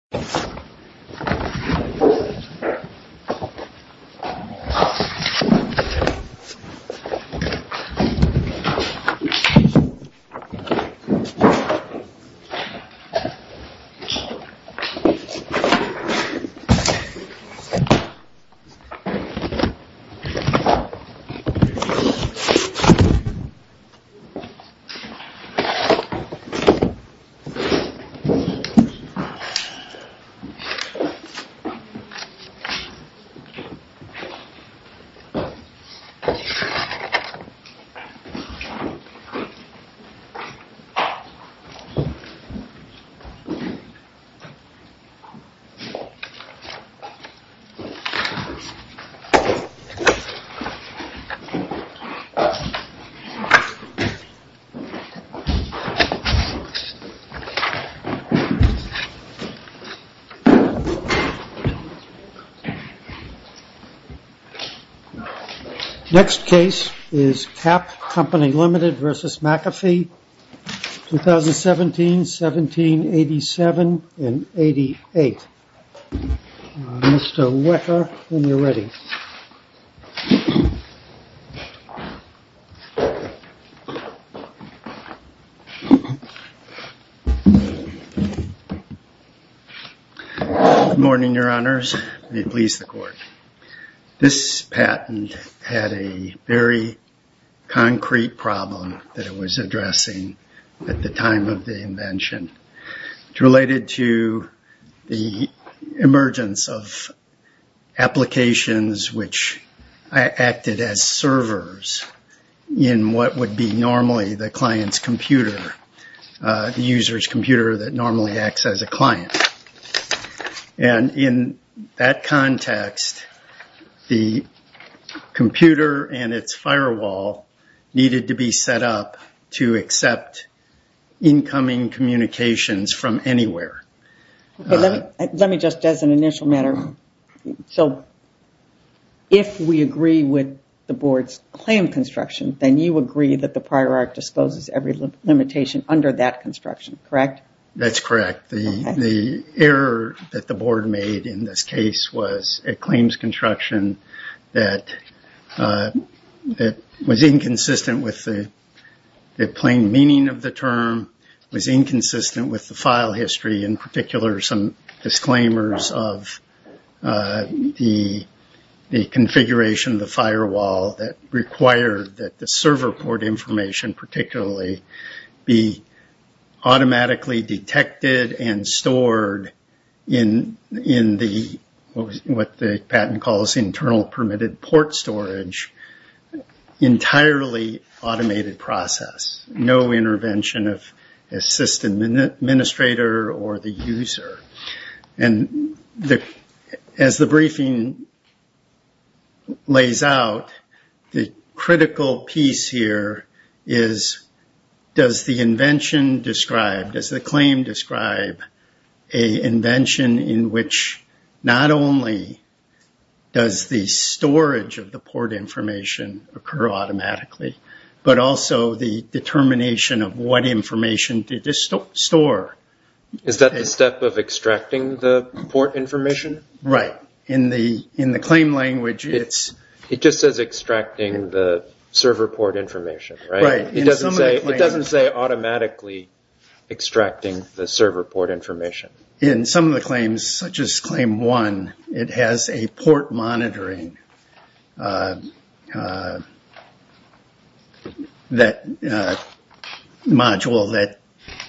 This is a recording of the meeting between the U.S. Embassy in the Philippines and the U.S. Embassy in the Philippines. This is a recording of the meeting between the U.S. Embassy in the Philippines and the U.S. Embassy in the Philippines. Next case is CAP Co., Ltd. v. McAfee, 2017-17-87-88. Mr. Wecker, when you're ready. Good morning, Your Honors. May it please the Court. This patent had a very concrete problem that it was addressing at the time of the invention. It's related to the emergence of applications which acted as servers in what would be normally the client's computer, the user's computer that normally acts as a client. In that context, the computer and its firewall needed to be set up to accept incoming communications from anywhere. Let me just, as an initial matter, if we agree with the Board's claim construction, then you agree that the Prior Art disposes every limitation under that construction, correct? That's correct. The error that the Board made in this case was a claims construction that was inconsistent with the plain meaning of the term, was inconsistent with the file history, in particular some disclaimers of the configuration of the firewall that required that the server port information particularly be automatically detected and stored in what the patent calls internal permitted port storage, entirely automated process, no intervention of a system administrator or the user. As the briefing lays out, the critical piece here is does the invention describe, does the claim describe an invention in which not only does the storage of the port information occur automatically, but also the determination of what information did it store? Is that the step of extracting the port information? Right. In the claim language, it's... It just says extracting the server port information, right? Right. It doesn't say automatically extracting the server port information. In some of the claims, such as claim one, it has a port monitoring module that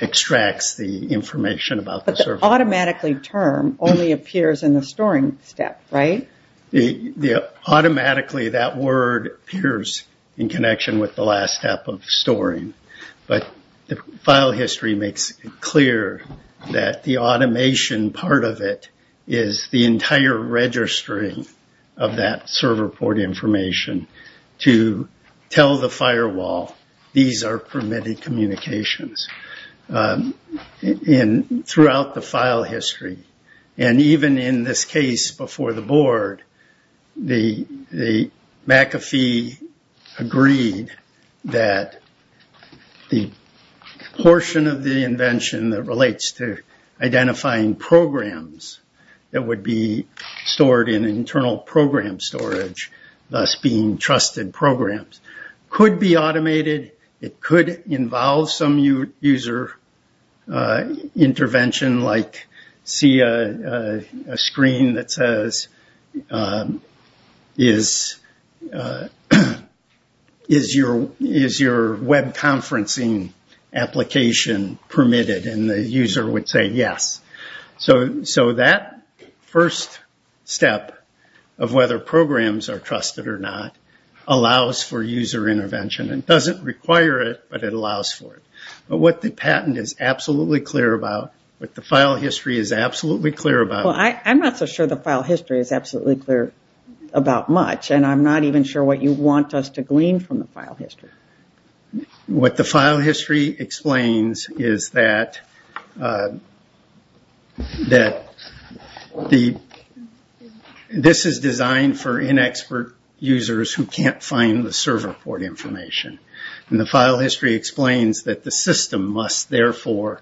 extracts the information about the server. But the automatically term only appears in the storing step, right? Automatically, that word appears in connection with the last step of storing. But the file history makes it clear that the automation part of it is the entire registering of that server port information to tell the firewall, these are permitted communications. And throughout the file history. And even in this case before the board, the McAfee agreed that the portion of the invention that relates to identifying programs that would be stored in internal program storage, thus being trusted programs, could be automated. It could involve some user intervention, like see a screen that says, is your web conferencing application permitted? And the user would say yes. So that first step of whether programs are trusted or not allows for user intervention. It doesn't require it, but it allows for it. But what the patent is absolutely clear about, what the file history is absolutely clear about... Well, I'm not so sure the file history is absolutely clear about much. And I'm not even sure what you want us to glean from the file history. What the file history explains is that this is designed for inexpert users who can't find the server port information. And the file history explains that the system must therefore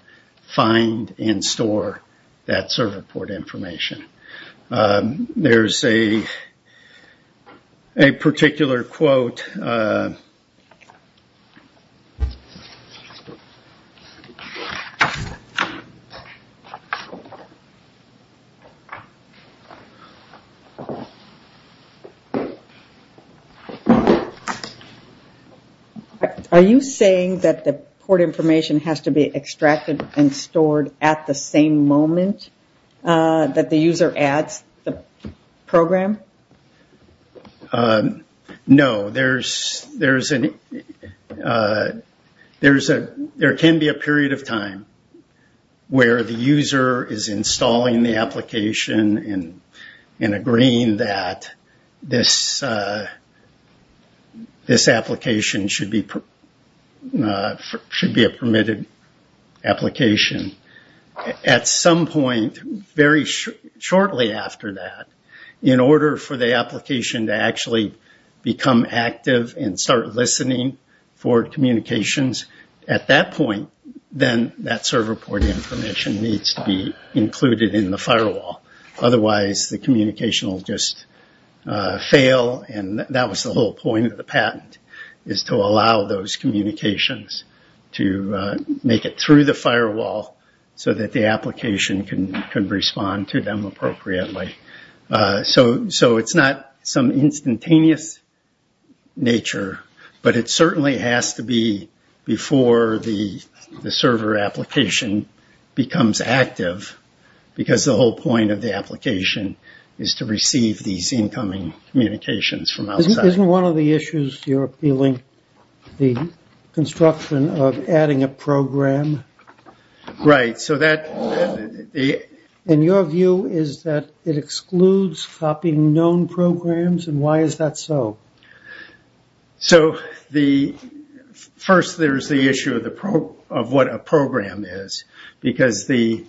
find and store that server port information. There's a particular quote. Are you saying that the port information has to be extracted and stored at the same moment that the user adds the program? No. There can be a period of time where the user is installing the application and agreeing that this application should be a permitted application. At some point, very shortly after that, in order for the application to actually become active and start listening for communications, at that point, then that server port information needs to be included in the firewall. Otherwise, the communication will just fail. And that was the whole point of the patent, is to allow those communications to make it through the firewall so that the application can respond to them appropriately. So it's not some instantaneous nature, but it certainly has to be before the server application becomes active, because the whole point of the application is to receive these incoming communications from outside. Isn't one of the issues you're appealing the construction of adding a program? Right. And your view is that it excludes copying known programs, and why is that so? First, there's the issue of what a program is, because the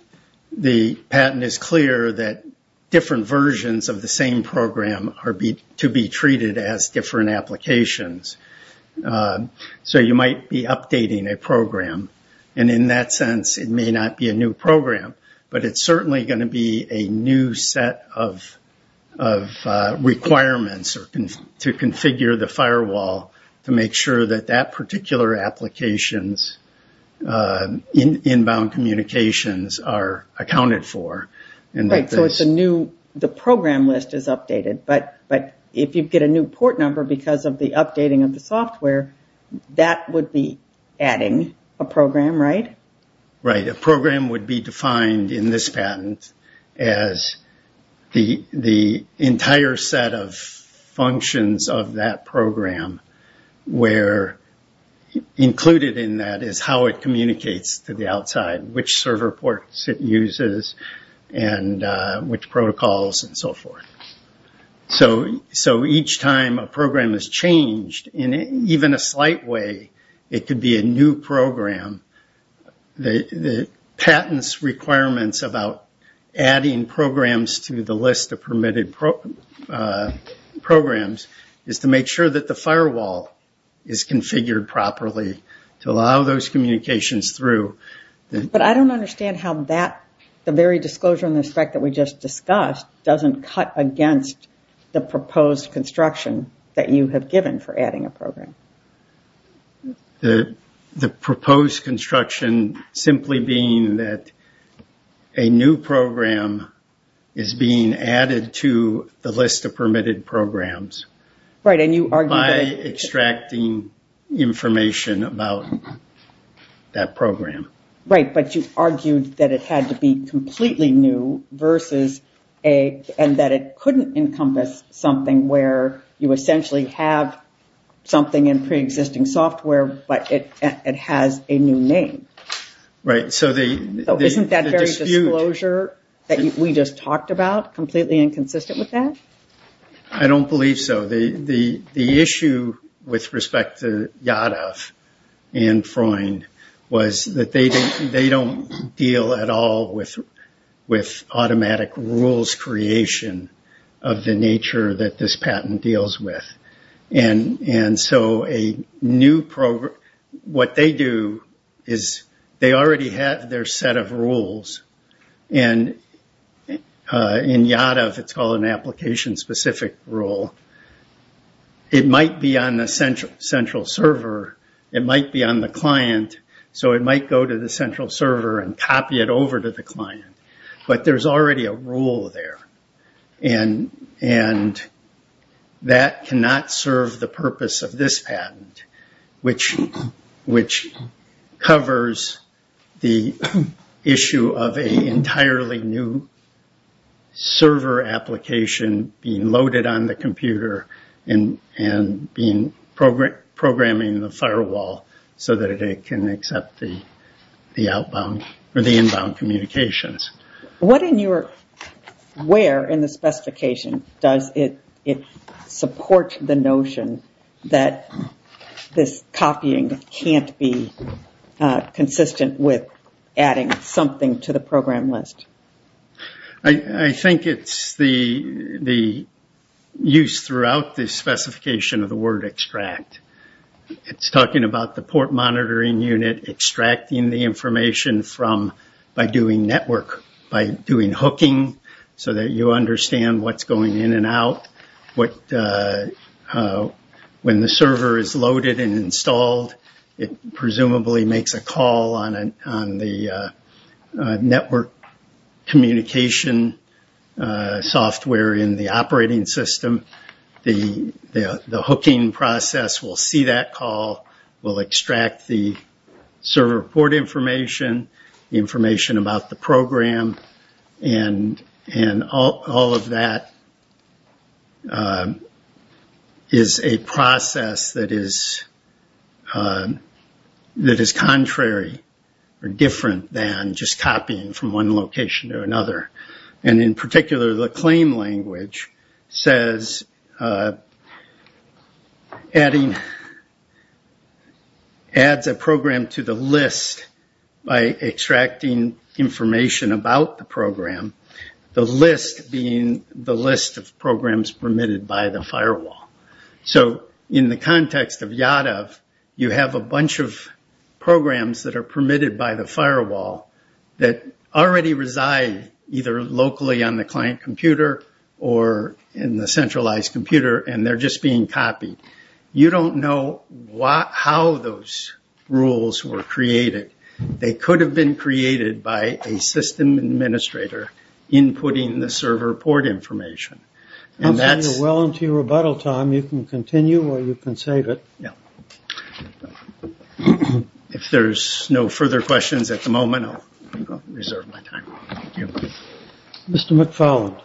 patent is clear that different versions of the same program are to be treated as different applications. So you might be updating a program. And in that sense, it may not be a new program, but it's certainly going to be a new set of requirements to configure the firewall to make sure that that particular application's inbound communications are accounted for. So the program list is updated, but if you get a new port number because of the updating of the software, that would be adding a program, right? Right. A program would be defined in this patent as the entire set of functions of that program, where included in that is how it communicates to the outside, which server ports it uses, and which protocols, and so forth. So each time a program is changed, in even a slight way, it could be a new program. The patent's requirements about adding programs to the list of permitted programs is to make sure that the firewall is configured properly to allow those communications through. But I don't understand how that, the very disclosure in respect that we just discussed, doesn't cut against the proposed construction that you have given for adding a program. The proposed construction simply being that a new program is being added to the list of permitted programs. Right, and you argued that... By extracting information about that program. Right, but you argued that it had to be completely new, and that it couldn't encompass something where you essentially have something in pre-existing software, but it has a new name. Right, so the dispute... Isn't that very disclosure that we just talked about completely inconsistent with that? I don't believe so. The issue with respect to Yadav and Freund was that they don't deal at all with automatic rules creation of the nature that this patent deals with. And so a new program... What they do is they already have their set of rules, and in Yadav it's called an application-specific rule. It might be on the central server, it might be on the client, so it might go to the central server and copy it over to the client. But there's already a rule there, and that cannot serve the purpose of this patent, which covers the issue of an entirely new server application being loaded on the computer and programming the firewall so that it can accept the inbound communications. Where in the specification does it support the notion that this copying can't be consistent with adding something to the program list? I think it's the use throughout the specification of the word extract. It's talking about the port monitoring unit extracting the information by doing network, by doing hooking so that you understand what's going in and out. When the server is loaded and installed, it presumably makes a call on the network communication software in the operating system. The hooking process will see that call, will extract the server port information, the information about the program, and all of that is a process that is contrary or different than just copying from one location to another. In particular, the claim language adds a program to the list by extracting information about the program, the list being the list of programs permitted by the firewall. In the context of Yadav, you have a bunch of programs that are permitted by the firewall that already reside either locally on the client computer or in the centralized computer and they're just being copied. You don't know how those rules were created. They could have been created by a system administrator inputting the server port information. Well into your rebuttal time, you can continue or you can save it. If there's no further questions at the moment, I'll reserve my time. Mr. McFarland.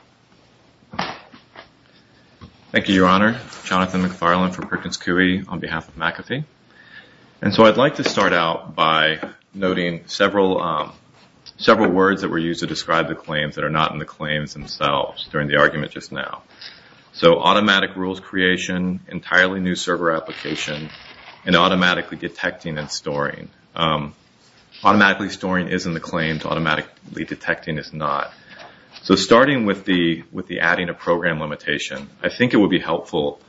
Thank you, Your Honor. Jonathan McFarland from Perkins Coie on behalf of McAfee. And so I'd like to start out by noting several words that were used to describe the claims that are not in the claims themselves during the argument just now. So automatic rules creation, entirely new server application, and automatically detecting and storing. Automatically storing is in the claims. Automatically detecting is not. So starting with the adding a program limitation, I think it would be helpful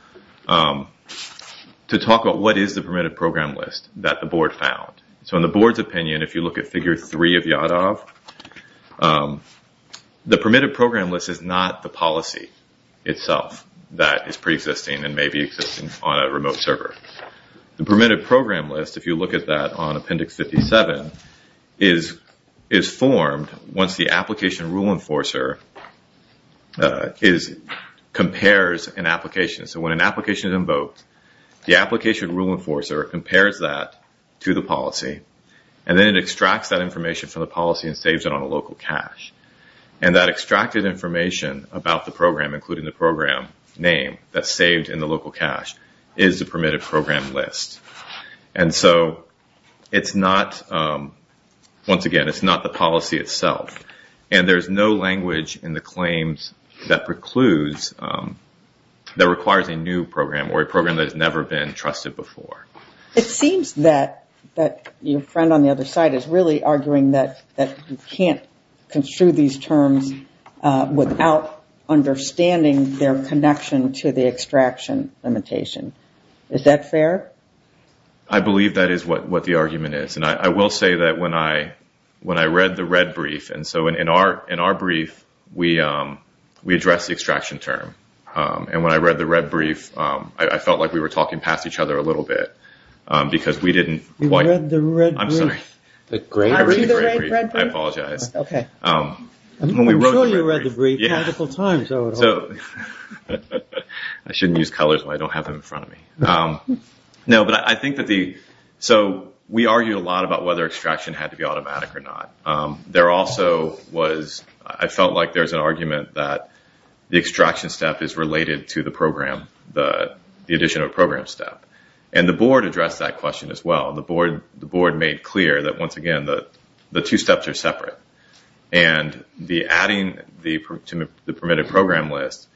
to talk about what is the permitted program list that the board found. So in the board's opinion, if you look at figure three of Yadov, the permitted program list is not the policy itself that is pre-existing and may be existing on a remote server. The permitted program list, if you look at that on appendix 57, is formed once the application rule enforcer compares an application. So when an application is invoked, the application rule enforcer compares that to the policy and then it extracts that information from the policy and saves it on a local cache. And that extracted information about the program, including the program name, that's saved in the local cache is the permitted program list. And so it's not, once again, it's not the policy itself. And there's no language in the claims that precludes, that requires a new program or a program that has never been trusted before. It seems that your friend on the other side is really arguing that you can't construe these terms without understanding their connection to the extraction limitation. Is that fair? I believe that is what the argument is. I will say that when I read the red brief, and so in our brief, we address the extraction term. And when I read the red brief, I felt like we were talking past each other a little bit. Because we didn't quite... You read the red brief? I'm sorry. I read the red brief. I apologize. Okay. I'm sure you read the brief multiple times. I shouldn't use colors when I don't have them in front of me. No, but I think that the... So we argued a lot about whether extraction had to be automatic or not. There also was... I felt like there's an argument that the extraction step is related to the program, the additional program step. And the board addressed that question as well. The board made clear that, once again, the two steps are separate. And the adding to the permitted program list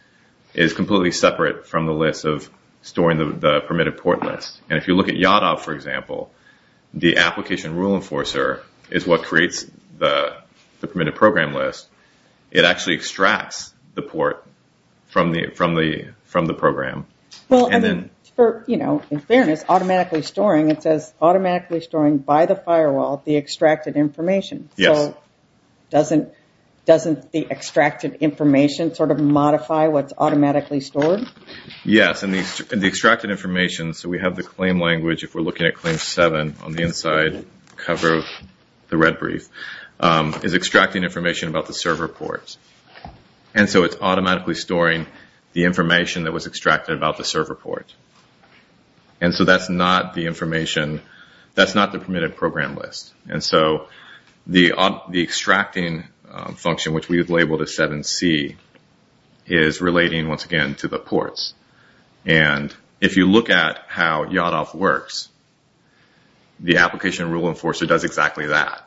is completely separate from the list of storing the permitted port list. And if you look at Yadov, for example, the application rule enforcer is what creates the permitted program list. It actually extracts the port from the program. Well, in fairness, automatically storing, it says automatically storing by the firewall the extracted information. Yes. So doesn't the extracted information sort of modify what's automatically stored? Yes. And the extracted information, so we have the claim language, if we're looking at Claim 7 on the inside cover of the red brief, is extracting information about the server ports. And so it's automatically storing the information that was extracted about the server port. And so that's not the information. That's not the permitted program list. And so the extracting function, which we have labeled as 7C, is relating, once again, to the ports. And if you look at how Yadov works, the application rule enforcer does exactly that.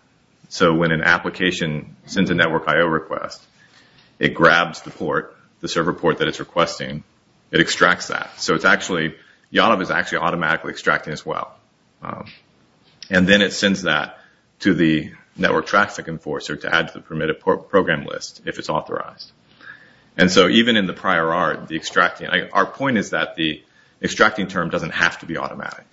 So when an application sends a network IO request, it grabs the port, the server port that it's requesting. It extracts that. So Yadov is actually automatically extracting as well. And then it sends that to the network traffic enforcer to add to the permitted program list if it's authorized. And so even in the prior art, the extracting, our point is that the extracting term doesn't have to be automatic.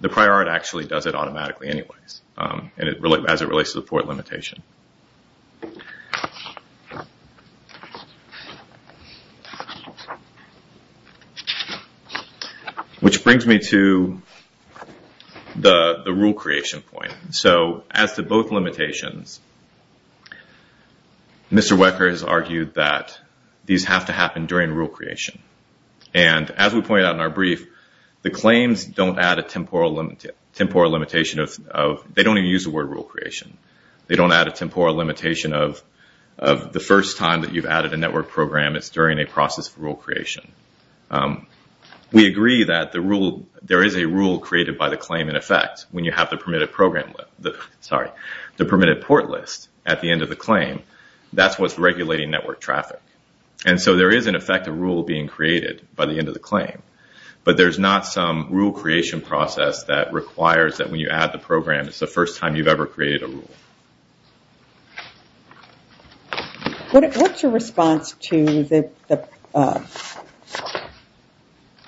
The prior art actually does it automatically anyways, as it relates to the port limitation. Which brings me to the rule creation point. So as to both limitations, Mr. Wecker has argued that these have to happen during rule creation. And as we pointed out in our brief, the claims don't add a temporal limitation of, they don't even use the word rule creation. They don't add a temporal limitation. of the first time that you've added a network program is during a process of rule creation. We agree that there is a rule created by the claim in effect when you have the permitted port list at the end of the claim. That's what's regulating network traffic. And so there is, in effect, a rule being created by the end of the claim. But there's not some rule creation process that requires that when you add the program, it's the first time you've ever created a rule. What's your response to their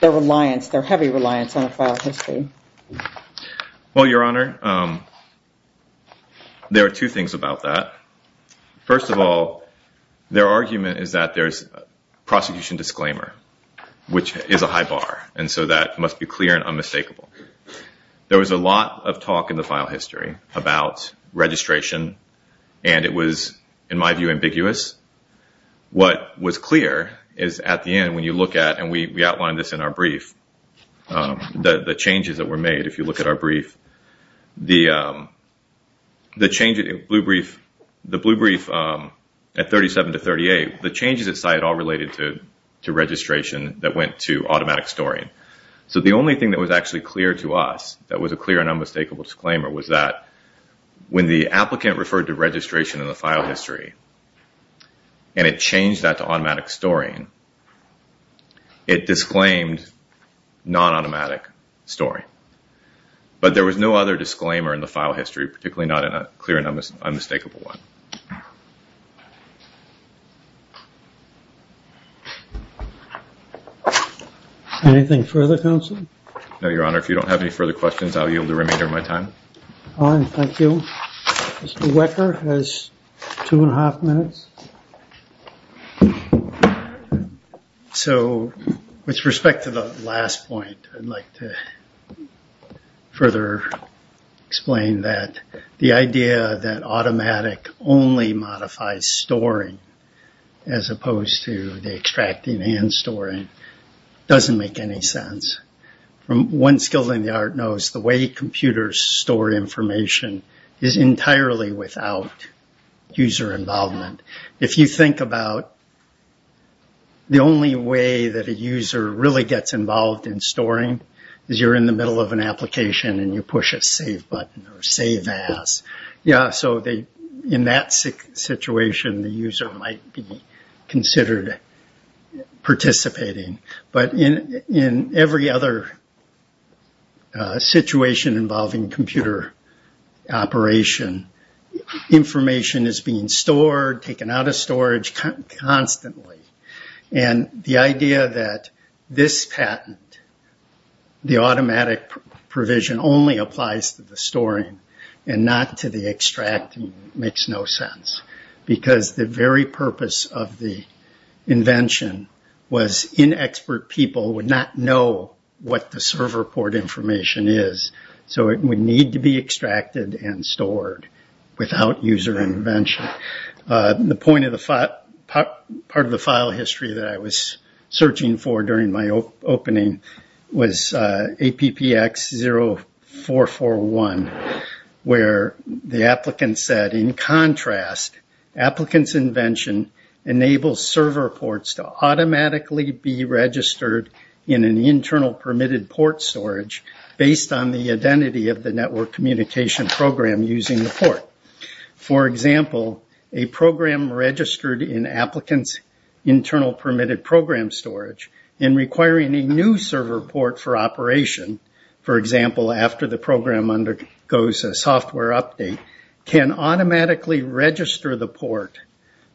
reliance, their heavy reliance on a file of history? Well, Your Honor, there are two things about that. First of all, their argument is that there's prosecution disclaimer, which is a high bar. And so that must be clear and unmistakable. There was a lot of talk in the file history about registration, and it was, in my view, ambiguous. What was clear is at the end when you look at, and we outlined this in our brief, the changes that were made, if you look at our brief, the blue brief at 37 to 38, the changes it cited all related to registration that went to automatic storing. So the only thing that was actually clear to us that was a clear and unmistakable disclaimer was that when the applicant referred to registration in the file history and it changed that to automatic storing, it disclaimed non-automatic storing. But there was no other disclaimer in the file history, particularly not in a clear and unmistakable one. Anything further, Counsel? No, Your Honor. If you don't have any further questions, I'll yield the remainder of my time. Fine. Thank you. Mr. Wecker has two and a half minutes. So with respect to the last point, I'd like to further explain that the idea that automatic only modifies storing as opposed to the extracting and storing doesn't make any sense. From one skill in the art knows the way computers store information is entirely without user involvement. If you think about the only way that a user really gets involved in storing is you're in the middle of an application and you push a save button or save as. Yeah, so in that situation, the user might be considered participating. But in every other situation involving computer operation, information is being stored, taken out of storage constantly. And the idea that this patent, the automatic provision only applies to the storing and not to the extracting makes no sense. Because the very purpose of the invention was inexpert people would not know what the server port information is. So it would need to be extracted and stored without user intervention. The part of the file history that I was searching for during my opening was APPX 0441, where the applicant said, in contrast, applicant's invention enables server ports to automatically be registered in an internal permitted port storage based on the identity of the network communication program using the port. For example, a program registered in applicant's internal permitted program storage and requiring a new server port for operation, for example, after the program undergoes a software update, can automatically register the port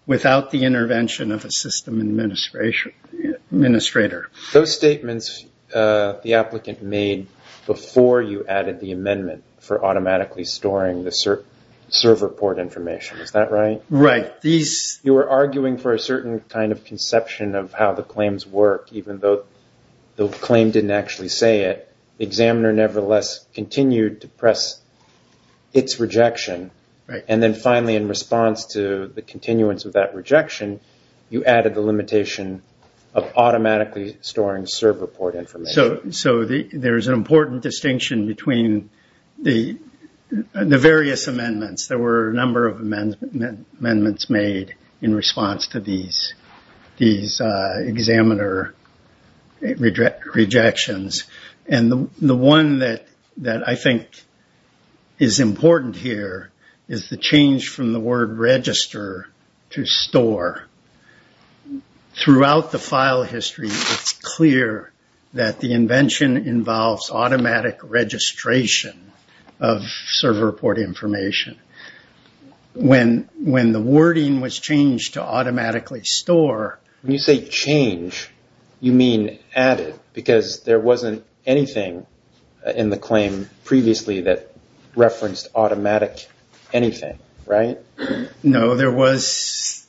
without the intervention of a system administrator. Those statements the applicant made before you added the amendment for automatically storing the server port information, is that right? Right. You were arguing for a certain kind of conception of how the claims work, even though the claim didn't actually say it. Examiner nevertheless continued to press its rejection. And then finally in response to the continuance of that rejection, you added the limitation of automatically storing server port information. So there's an important distinction between the various amendments. There were a number of amendments made in response to these examiner rejections. The one that I think is important here is the change from the word register to store. Throughout the file history, it's clear that the invention involves automatic registration of server port information. When the wording was changed to automatically store... When you say change, you mean added, because there wasn't anything in the claim previously that referenced automatic anything, right? No. There was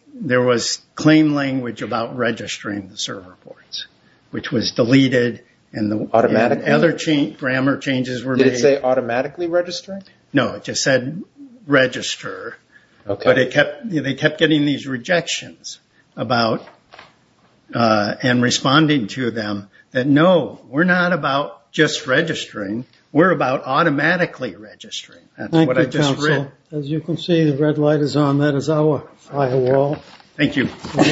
claim language about registering the server ports, which was deleted. Automatically? Other grammar changes were made. Did it say automatically register? No. It just said register. Okay. But they kept getting these rejections about, and responding to them, that no, we're not about just registering. We're about automatically registering. That's what I just read. Thank you, counsel. As you can see, the red light is on. That is our firewall. Thank you.